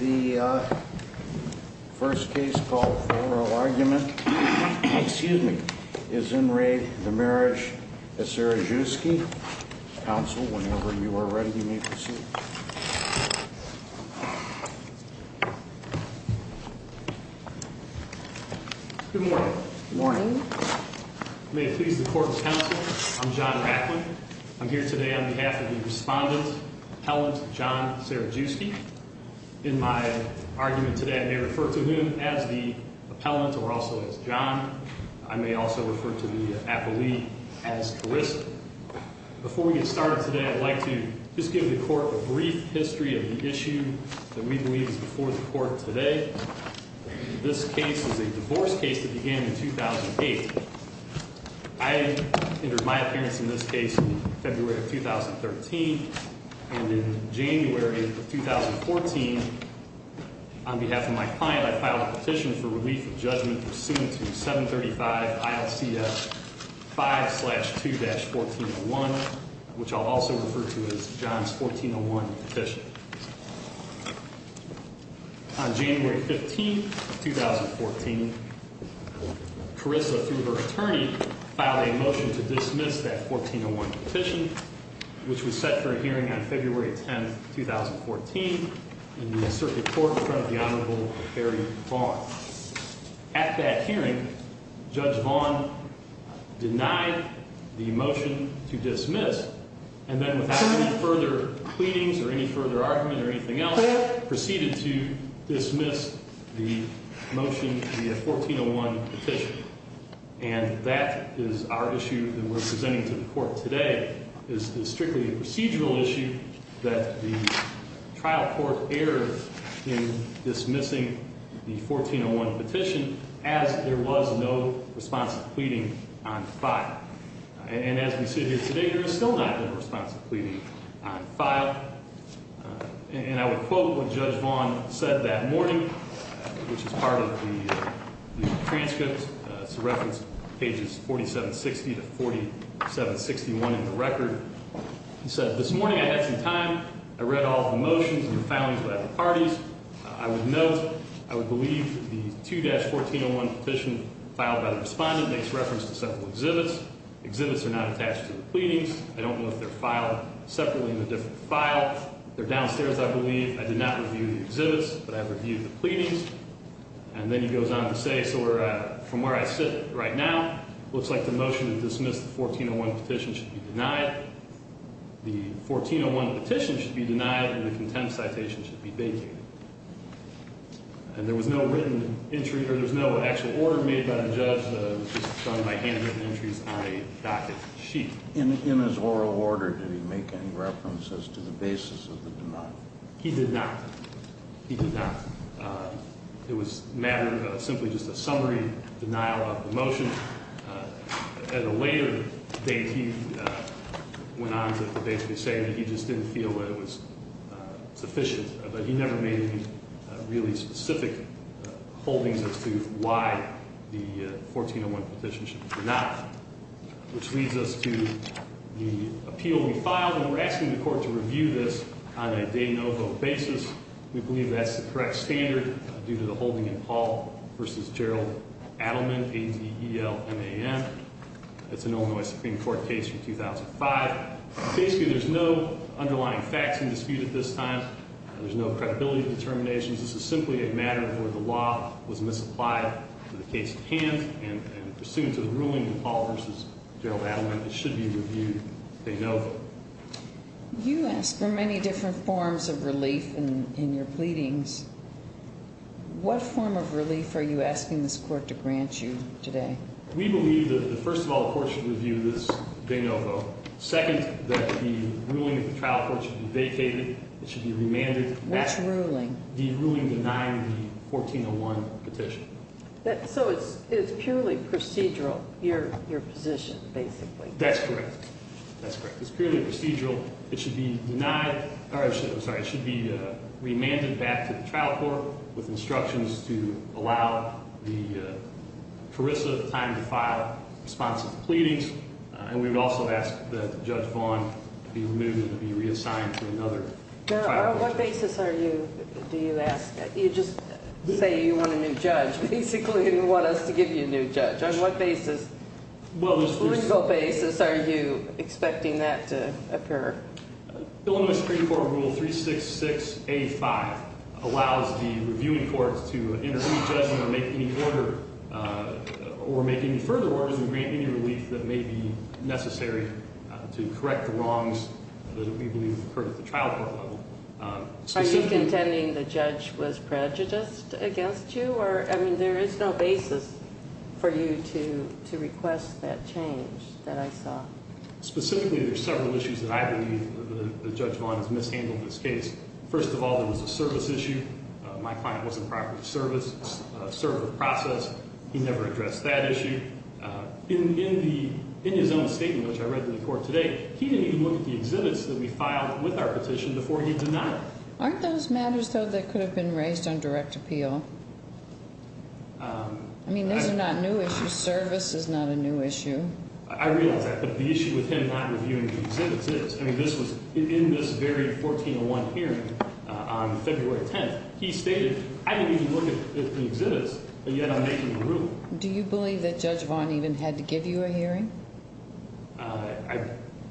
The first case called for argument, excuse me, is enraged. The marriage of Cerajewski. Council, whenever you are ready, you may proceed. Good morning. Good morning. May it please the court of counsel. I'm John Ratcliffe. I'm here today on behalf of the respondent, appellant John Cerajewski. In my argument today, I may refer to him as the appellant or also as John. I may also refer to the appellee as Carissa. Before we get started today, I'd like to just give the court a brief history of the issue that we believe is before the court today. This case is a divorce case that began in 2008. I entered my appearance in this case in February of 2013. And in January of 2014, on behalf of my client, I filed a petition for relief of judgment. 735. I'll see a five slash two dash 14 one, which I'll also refer to as John's 14 on one petition. On January 15th, 2014, Carissa, through her attorney, filed a motion to dismiss that 14 on one petition, which was set for hearing on February 10th, 2014. In the circuit court in front of the Honorable Harry Fong. At that hearing, Judge Vaughn denied the motion to dismiss. And then without any further pleadings or any further argument or anything else, proceeded to dismiss the motion, the 14 on one petition. And that is our issue that we're presenting to the court today is strictly a procedural issue that the trial court error in dismissing the 14 on one petition as there was no response to pleading on file. And as we sit here today, there is still not a response to pleading on file. And I would quote what Judge Vaughn said that morning, which is part of the transcripts. It's referenced pages 47, 60 to 47, 61 in the record. He said this morning I had some time. I read all the motions and the filings of the parties. I would note I would believe the two dash 14 on one petition filed by the respondent makes reference to several exhibits. Exhibits are not attached to the pleadings. I don't know if they're filed separately in a different file. They're downstairs. I believe I did not review the exhibits, but I reviewed the pleadings. And then he goes on to say, so we're from where I sit right now. Looks like the motion to dismiss the 14 on one petition should be denied. The 14 on one petition should be denied and the contempt citation should be vacated. And there was no written entry or there was no actual order made by the judge. It was done by handwritten entries on a docket sheet. In his oral order, did he make any reference as to the basis of the denial? He did not. He did not. It was a matter of simply just a summary denial of the motion. At a later date, he went on to basically say that he just didn't feel that it was sufficient. But he never made any really specific holdings as to why the 14 on one petition should be denied. Which leads us to the appeal we filed. And we're asking the court to review this on a day no vote basis. We believe that's the correct standard due to the holding in Paul versus Gerald Adelman, A.D.E.L. M.A.M. That's an Illinois Supreme Court case from 2005. Basically, there's no underlying facts in dispute at this time. There's no credibility determinations. This is simply a matter where the law was misapplied in the case at hand. And pursuant to the ruling in Paul versus Gerald Adelman, it should be reviewed day no vote. You asked for many different forms of relief in your pleadings. What form of relief are you asking this court to grant you today? We believe that, first of all, the court should review this day no vote. Second, that the ruling at the trial court should be vacated. It should be remanded. Which ruling? The ruling denying the 1401 petition. So it's purely procedural, your position, basically. That's correct. That's correct. It's purely procedural. It should be remanded back to the trial court with instructions to allow the perissable time to file responsive pleadings. And we would also ask that Judge Vaughn be removed and be reassigned to another trial court. Now, on what basis are you do you ask? You just say you want a new judge. Basically, you want us to give you a new judge. On what basis, legal basis, are you expecting that to occur? The Illinois Supreme Court Rule 366A5 allows the reviewing courts to intervene, judge, or make any further orders and grant any relief that may be necessary to correct the wrongs that we believe occurred at the trial court level. Are you contending the judge was prejudiced against you? I mean, there is no basis for you to request that change that I saw. Specifically, there are several issues that I believe that Judge Vaughn has mishandled this case. First of all, there was a service issue. My client was in property service, served the process. He never addressed that issue. In his own statement, which I read to the court today, he didn't even look at the exhibits that we filed with our petition before he denied it. Aren't those matters, though, that could have been raised on direct appeal? I mean, those are not new issues. Service is not a new issue. I realize that, but the issue with him not reviewing the exhibits is. I mean, this was in this very 1401 hearing on February 10th. He stated, I didn't even look at the exhibits, and yet I'm making a ruling. Do you believe that Judge Vaughn even had to give you a hearing?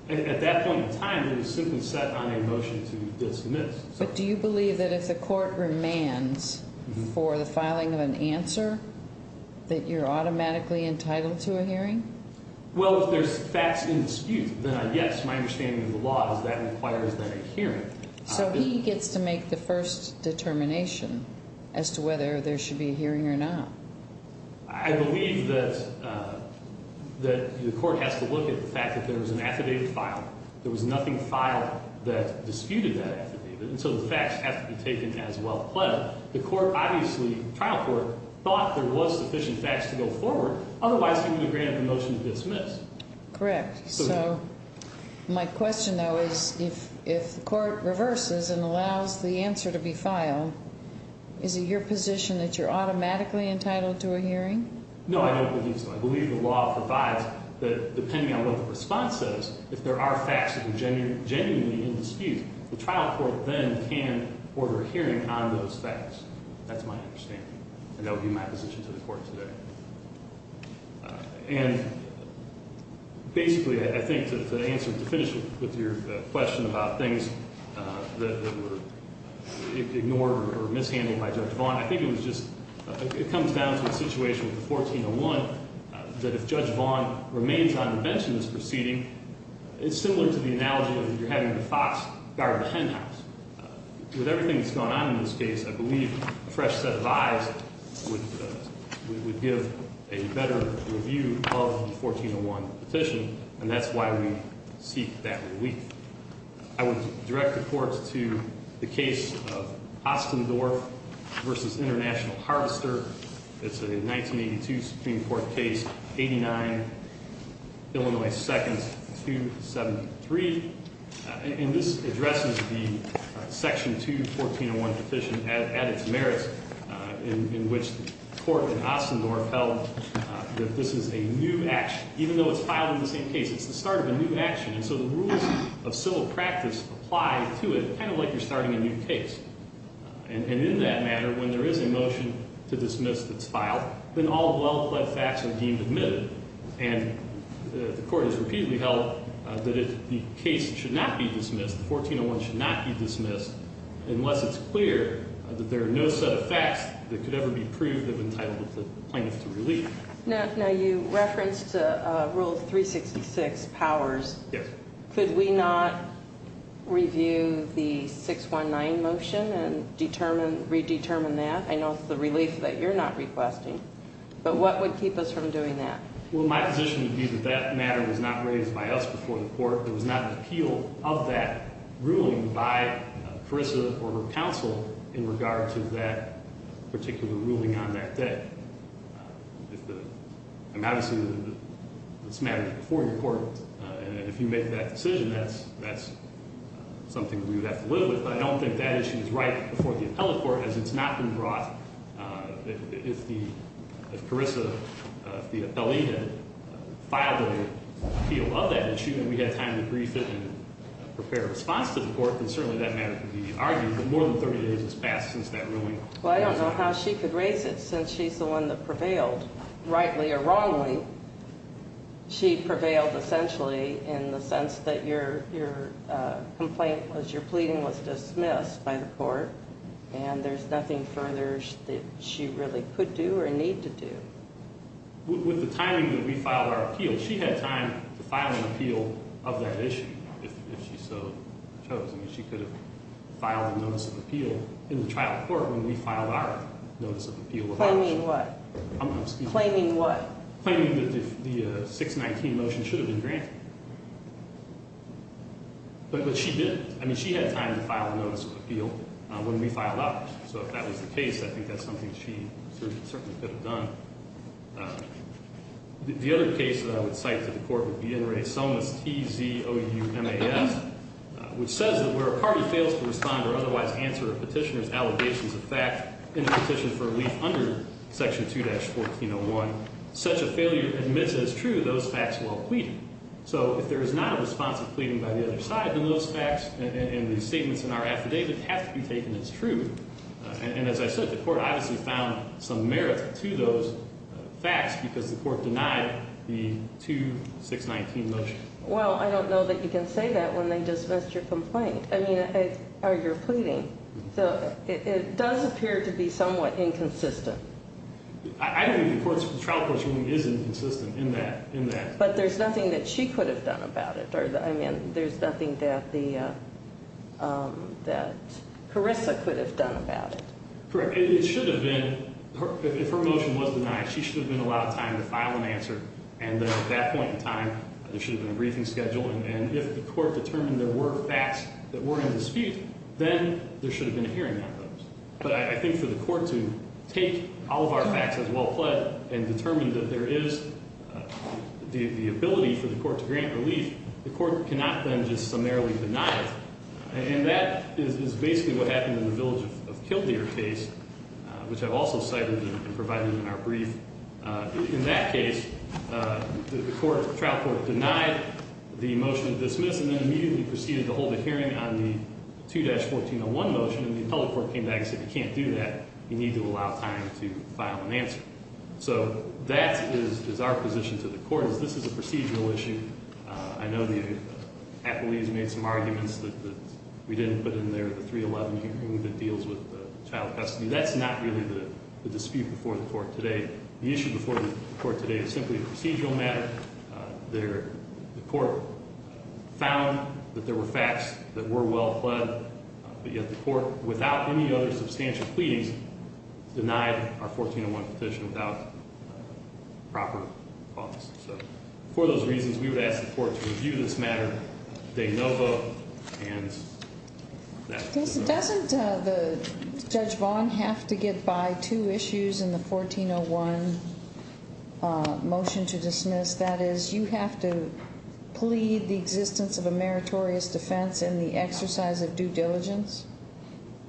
At that point in time, it was simply set on a motion to dismiss. But do you believe that if the court remands for the filing of an answer, that you're automatically entitled to a hearing? Well, if there's facts in dispute, then yes, my understanding of the law is that requires then a hearing. So he gets to make the first determination as to whether there should be a hearing or not. I believe that the court has to look at the fact that there was an affidavit filed. There was nothing filed that disputed that affidavit, and so the facts have to be taken as well. The court obviously, the trial court, thought there was sufficient facts to go forward. Otherwise, he would have granted the motion to dismiss. Correct. So my question, though, is if the court reverses and allows the answer to be filed, is it your position that you're automatically entitled to a hearing? No, I don't believe so. I believe the law provides that depending on what the response says, if there are facts that are genuinely in dispute, the trial court then can order a hearing on those facts. That's my understanding, and that would be my position to the court today. And basically, I think to answer, to finish with your question about things that were ignored or mishandled by Judge Vaughn, I think it was just, it comes down to a situation with the 1401 that if Judge Vaughn remains on the bench in this proceeding, it's similar to the analogy of you're having the fox guard the hen house. With everything that's gone on in this case, I believe a fresh set of eyes would give a better review of the 1401 petition, and that's why we seek that relief. I would direct the court to the case of Ostendorf versus International Harvester. It's a 1982 Supreme Court case, 89 Illinois Seconds 273. And this addresses the Section 2, 1401 petition at its merits, in which the court in Ostendorf held that this is a new action. Even though it's filing the same case, it's the start of a new action. And so the rules of civil practice apply to it, kind of like you're starting a new case. And in that matter, when there is a motion to dismiss that's filed, then all well-pled facts are deemed admitted. And the court has repeatedly held that the case should not be dismissed, the 1401 should not be dismissed, unless it's clear that there are no set of facts that could ever be proved of entitlement of the plaintiff to relief. Now you referenced Rule 366 Powers. Yes. Could we not review the 619 motion and determine, redetermine that? I know it's the relief that you're not requesting, but what would keep us from doing that? Well, my position would be that that matter was not raised by us before the court. There was not an appeal of that ruling by Carissa or her counsel in regard to that particular ruling on that day. Obviously, this matter is before your court, and if you make that decision, that's something we would have to live with. But I don't think that issue is right before the appellate court, as it's not been brought. If Carissa, if the appellee had filed an appeal of that issue and we had time to brief it and prepare a response to the court, then certainly that matter could be argued. But more than 30 days has passed since that ruling. Well, I don't know how she could raise it since she's the one that prevailed, rightly or wrongly. She prevailed essentially in the sense that your complaint was, your pleading was dismissed by the court, and there's nothing further that she really could do or need to do. With the timing that we filed our appeal, she had time to file an appeal of that issue, if she so chose. I mean, she could have filed a notice of appeal in the trial court when we filed our notice of appeal of that issue. Claiming what? I'm sorry. Claiming what? Claiming that the 619 motion should have been granted. But she didn't. I mean, she had time to file a notice of appeal when we filed ours. So if that was the case, I think that's something she certainly could have done. The other case that I would cite to the court would be N. Ray Somas, T-Z-O-U-M-A-S, which says that where a party fails to respond or otherwise answer a petitioner's allegations of fact in a petition for relief under Section 2-1401, such a failure admits as true those facts while pleading. So if there is not a response of pleading by the other side in those facts and the statements in our affidavit have to be taken as true. And as I said, the court obviously found some merit to those facts because the court denied the 2-619 motion. Well, I don't know that you can say that when they dismissed your complaint. I mean, or your pleading. So it does appear to be somewhat inconsistent. I don't think the trial court's ruling is inconsistent in that. But there's nothing that she could have done about it. Or, I mean, there's nothing that Carissa could have done about it. Correct. It should have been, if her motion was denied, she should have been allowed time to file an answer. And at that point in time, there should have been a briefing schedule. And if the court determined there were facts that were in dispute, then there should have been a hearing on those. But I think for the court to take all of our facts as well pled and determine that there is the ability for the court to grant relief, the court cannot then just summarily deny it. And that is basically what happened in the Village of Kildare case, which I've also cited and provided in our brief. In that case, the trial court denied the motion to dismiss and then immediately proceeded to hold a hearing on the 2-1401 motion. And the appellate court came back and said, you can't do that. You need to allow time to file an answer. So that is our position to the court, is this is a procedural issue. I know the appellees made some arguments that we didn't put in there, the 311 hearing that deals with child custody. That's not really the dispute before the court today. The issue before the court today is simply a procedural matter. The court found that there were facts that were well pled. But yet the court, without any other substantial pleadings, denied our 1401 petition without proper cause. So for those reasons, we would ask the court to review this matter de novo and that's it. Doesn't Judge Vaughn have to get by two issues in the 1401 motion to dismiss? That is, you have to plead the existence of a meritorious defense and the exercise of due diligence?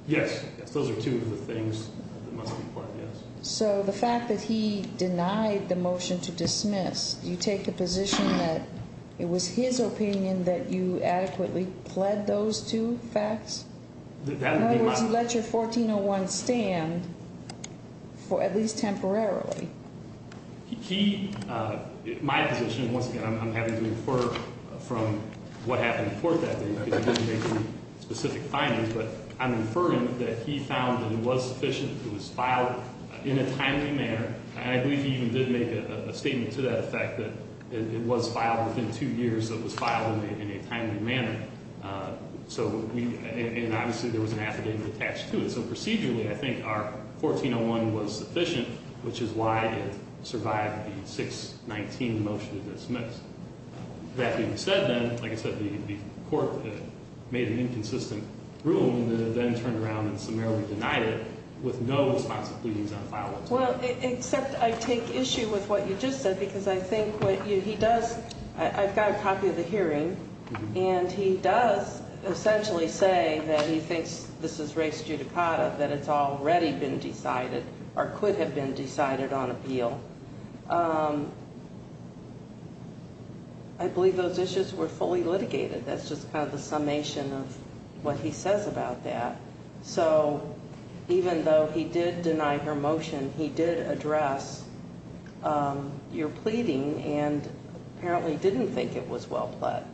Yes, those are two of the things that must be pled, yes. So the fact that he denied the motion to dismiss, do you take the position that it was his opinion that you adequately pled those two facts? In other words, you let your 1401 stand for at least temporarily? He, my position, once again, I'm happy to infer from what happened before that day because you didn't make any specific findings. But I'm inferring that he found that it was sufficient, it was filed in a timely manner. And I believe he even did make a statement to that effect that it was filed within two years, it was filed in a timely manner. And obviously, there was an affidavit attached to it. So procedurally, I think our 1401 was sufficient, which is why it survived the 619 motion to dismiss. That being said then, like I said, the court made an inconsistent ruling that it then turned around and summarily denied it with no responsive pleadings on file 12. Well, except I take issue with what you just said, because I think what he does, I've got a copy of the hearing. And he does essentially say that he thinks this is res judicata, that it's already been decided or could have been decided on appeal. I believe those issues were fully litigated. That's just kind of the summation of what he says about that. So even though he did deny her motion, he did address your pleading and apparently didn't think it was well pled.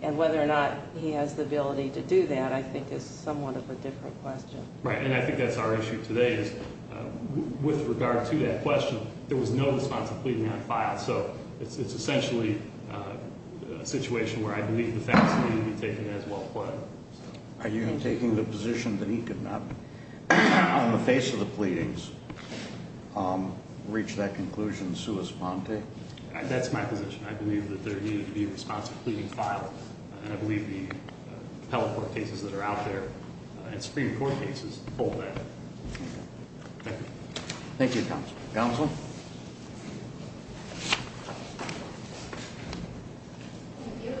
And whether or not he has the ability to do that, I think is somewhat of a different question. Right, and I think that's our issue today is with regard to that question, there was no responsive pleading on file. So it's essentially a situation where I believe the facts need to be taken as well pled. Are you taking the position that he could not, on the face of the pleadings, reach that conclusion sua sponte? That's my position. I believe that there needed to be a responsive pleading filed. And I believe the appellate court cases that are out there and Supreme Court cases hold that. Thank you. Thank you, counsel. Counsel? Thank you.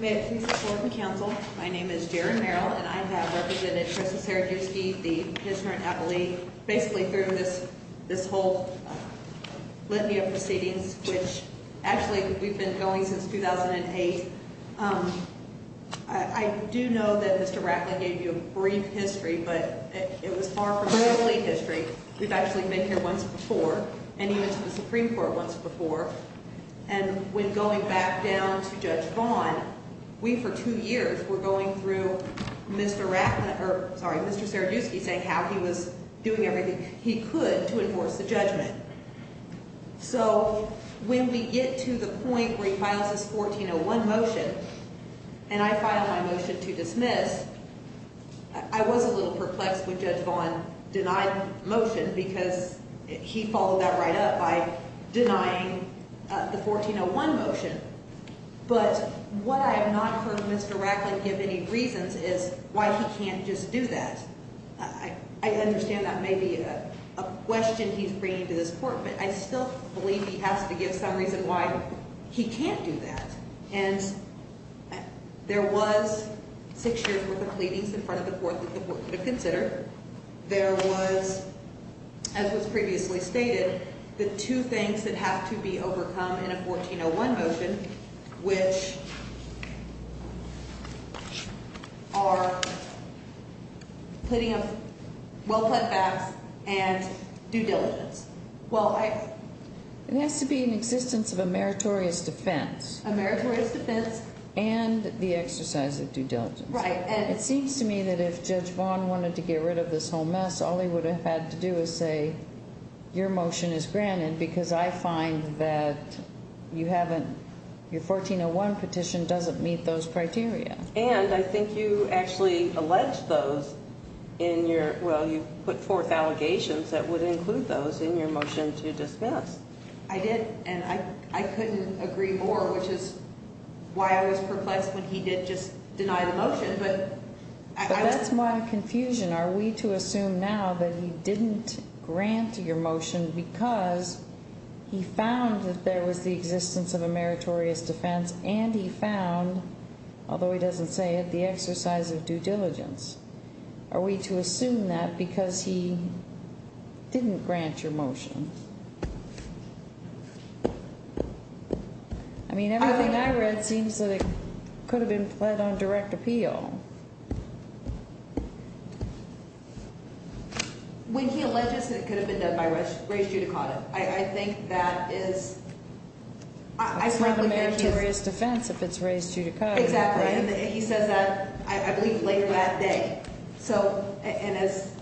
May I please support the counsel? My name is Jaron Merrill, and I have represented Justice Serajewski, the commissioner and appellee, basically through this whole litany of proceedings, which actually we've been going since 2008. I do know that Mr. Rackley gave you a brief history, but it was far from literally history. We've actually been here once before, and he went to the Supreme Court once before. And when going back down to Judge Vaughn, we for two years were going through Mr. Rackley or, sorry, Mr. Serajewski saying how he was doing everything he could to enforce the judgment. So when we get to the point where he files his 1401 motion, and I file my motion to dismiss, I was a little perplexed when Judge Vaughn denied the motion because he followed that right up by denying the 1401 motion. But what I have not heard Mr. Rackley give any reasons is why he can't just do that. I understand that may be a question he's bringing to this court, but I still believe he has to give some reason why he can't do that. And there was six years' worth of pleadings in front of the court that the court could have considered. There was, as was previously stated, the two things that have to be overcome in a 1401 motion, which are pleading of well-planned facts and due diligence. Well, I— It has to be an existence of a meritorious defense. A meritorious defense. And the exercise of due diligence. Right. It seems to me that if Judge Vaughn wanted to get rid of this whole mess, all he would have had to do is say, your motion is granted because I find that you haven't—your 1401 petition doesn't meet those criteria. And I think you actually alleged those in your—well, you put forth allegations that would include those in your motion to dismiss. I did, and I couldn't agree more, which is why I was perplexed when he did just deny the motion. But I— But that's my confusion. Are we to assume now that he didn't grant your motion because he found that there was the existence of a meritorious defense and he found, although he doesn't say it, the exercise of due diligence? Are we to assume that because he didn't grant your motion? I mean, everything I read seems that it could have been pled on direct appeal. When he alleges that it could have been done by race judicata, I think that is— It's not a meritorious defense if it's race judicata. Exactly. He says that, I believe, later that day. So—and as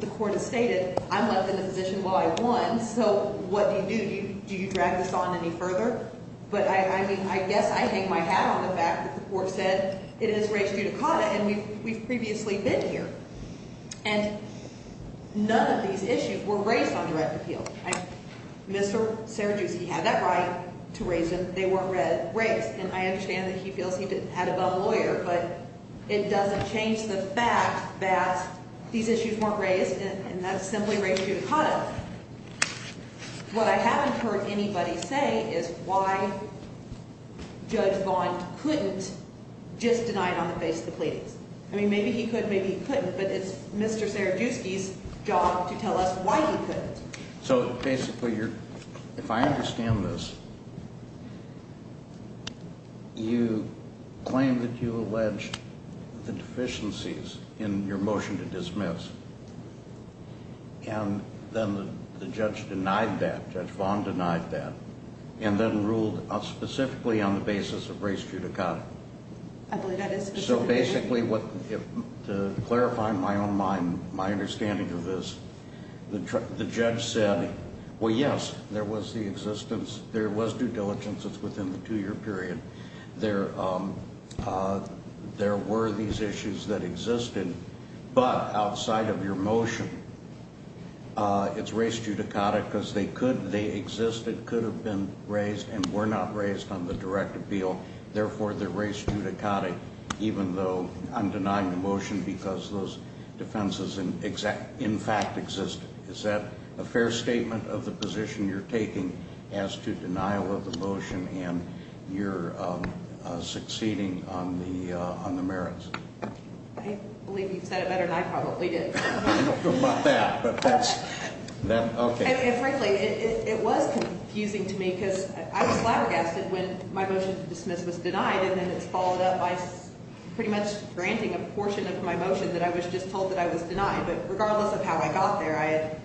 the court has stated, I'm left in a position where I won, so what do you do? Do you drag this on any further? But, I mean, I guess I hang my hat on the fact that the court said it is race judicata and we've previously been here. And none of these issues were raised on direct appeal. I mean, Mr. Sergius, he had that right to raise them. They weren't raised. And I understand that he feels he had a better lawyer, but it doesn't change the fact that these issues weren't raised and that it's simply race judicata. What I haven't heard anybody say is why Judge Vaughn couldn't just deny it on the face of the pleadings. I mean, maybe he could, maybe he couldn't, but it's Mr. Sergiuski's job to tell us why he couldn't. So, basically, if I understand this, you claim that you allege the deficiencies in your motion to dismiss, and then the judge denied that, Judge Vaughn denied that, and then ruled specifically on the basis of race judicata. I believe that is specifically. So, basically, to clarify my own mind, my understanding of this, the judge said, well, yes, there was the existence, there was due diligence, it's within the two-year period. There were these issues that existed, but outside of your motion, it's race judicata because they could, they existed, could have been raised and were not raised on the direct appeal. Therefore, they're race judicata, even though I'm denying the motion because those defenses, in fact, exist. Is that a fair statement of the position you're taking as to denial of the motion and your succeeding on the merits? I believe you've said it better than I probably did. I don't know about that, but that's, okay. Frankly, it was confusing to me because I was flabbergasted when my motion to dismiss was denied, and then it's followed up by pretty much granting a portion of my motion that I was just told that I was denied. But regardless of how I got there,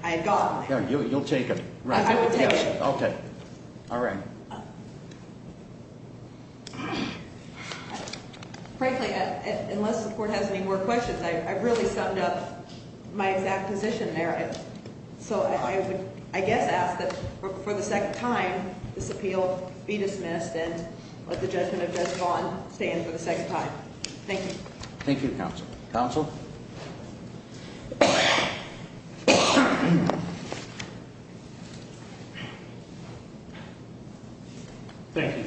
I had gotten there. You'll take it. I will take it. Okay. All right. Frankly, unless the court has any more questions, I really summed up my exact position there. So I would, I guess, ask that for the second time, this appeal be dismissed and let the judgment of Judge Vaughn stand for the second time. Thank you. Thank you, counsel. Counsel? Thank you.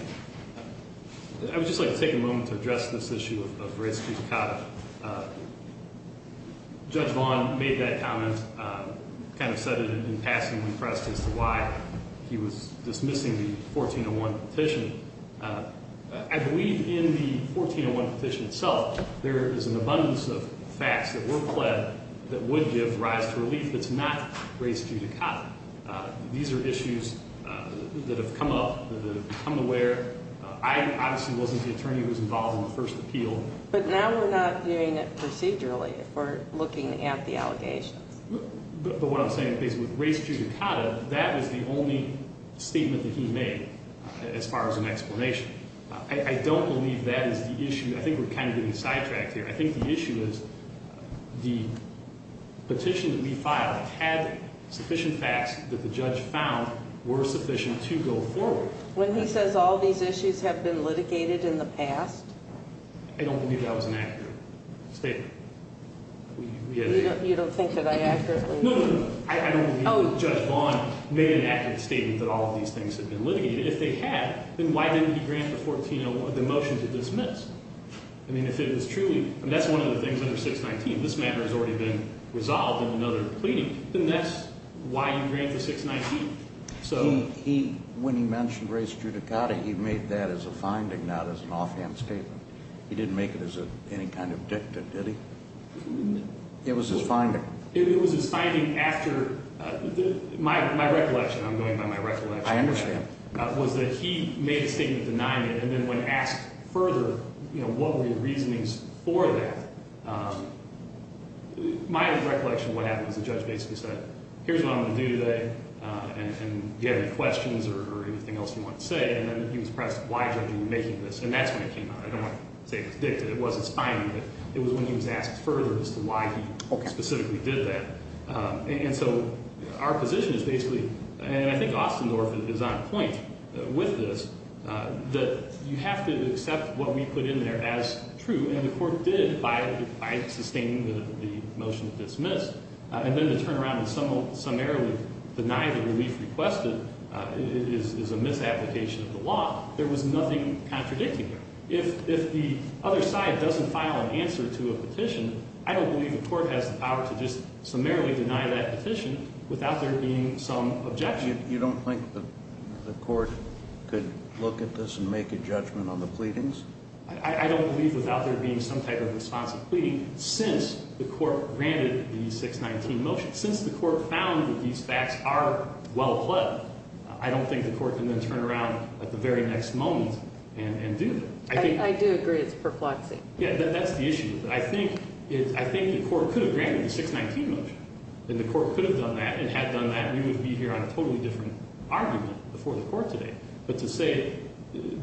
I would just like to take a moment to address this issue of race judicata. Judge Vaughn made that comment, kind of said it in passing when pressed as to why he was dismissing the 1401 petition. I believe in the 1401 petition itself, there is an abundance of facts that were pled that would give rise to relief that's not race judicata. These are issues that have come up, that have become aware. I obviously wasn't the attorney who was involved in the first appeal. But now we're not doing it procedurally. We're looking at the allegations. But what I'm saying is with race judicata, that was the only statement that he made as far as an explanation. I don't believe that is the issue. I think we're kind of getting sidetracked here. I think the issue is the petition that we filed had sufficient facts that the judge found were sufficient to go forward. When he says all these issues have been litigated in the past? I don't believe that was an accurate statement. You don't think that I accurately? No, no, no. I don't believe that Judge Vaughn made an accurate statement that all of these things have been litigated. If they had, then why didn't he grant the 1401, the motion to dismiss? I mean, if it was truly, and that's one of the things under 619, this matter has already been resolved in another pleading. Then that's why you grant the 619. When he mentioned race judicata, he made that as a finding, not as an offhand statement. He didn't make it as any kind of dicta, did he? No. It was his finding. It was his finding after my recollection. I'm going by my recollection. I understand. Was that he made a statement denying it, and then when asked further, you know, what were your reasonings for that? My recollection of what happened is the judge basically said, here's what I'm going to do today, and do you have any questions or anything else you want to say? And then he was pressed, why judge are you making this? And that's when it came out. I don't want to say it was dicta. It wasn't a finding. It was when he was asked further as to why he specifically did that. And so our position is basically, and I think Austin North is on point with this, that you have to accept what we put in there as true. And the court did, by sustaining the motion to dismiss, and then to turn around and summarily deny the relief requested is a misapplication of the law. There was nothing contradicting that. If the other side doesn't file an answer to a petition, I don't believe the court has the power to just summarily deny that petition without there being some objection. You don't think the court could look at this and make a judgment on the pleadings? I don't believe without there being some type of responsive pleading since the court granted the 619 motion. Since the court found that these facts are well-pled, I don't think the court can then turn around at the very next moment and do that. I do agree it's perplexing. Yeah, that's the issue. I think the court could have granted the 619 motion, and the court could have done that and had done that, we would be here on a totally different argument before the court today. But to say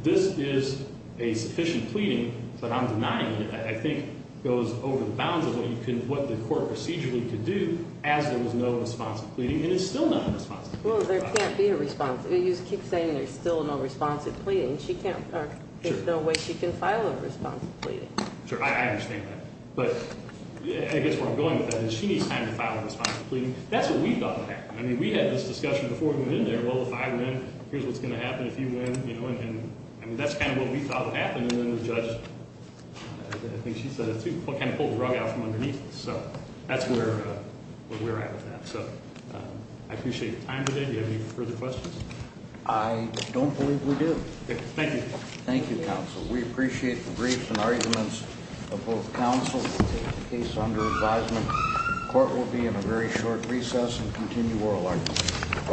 this is a sufficient pleading, but I'm denying it, I think goes over the bounds of what the court procedurally could do as there was no responsive pleading. And it's still not responsive. Well, there can't be a responsive. You just keep saying there's still no responsive pleading. There's no way she can file a responsive pleading. Sure, I understand that. But I guess where I'm going with that is she needs time to file a responsive pleading. That's what we thought would happen. I mean, we had this discussion before we went in there. Well, if I win, here's what's going to happen if you win. And that's kind of what we thought would happen. And then the judge, I think she said it too, kind of pulled the rug out from underneath us. So that's where we're at with that. So I appreciate your time today. Do you have any further questions? I don't believe we do. Thank you. Thank you, counsel. We appreciate the briefs and arguments of both counsel and the case under advisement. The court will be in a very short recess and continue oral arguments.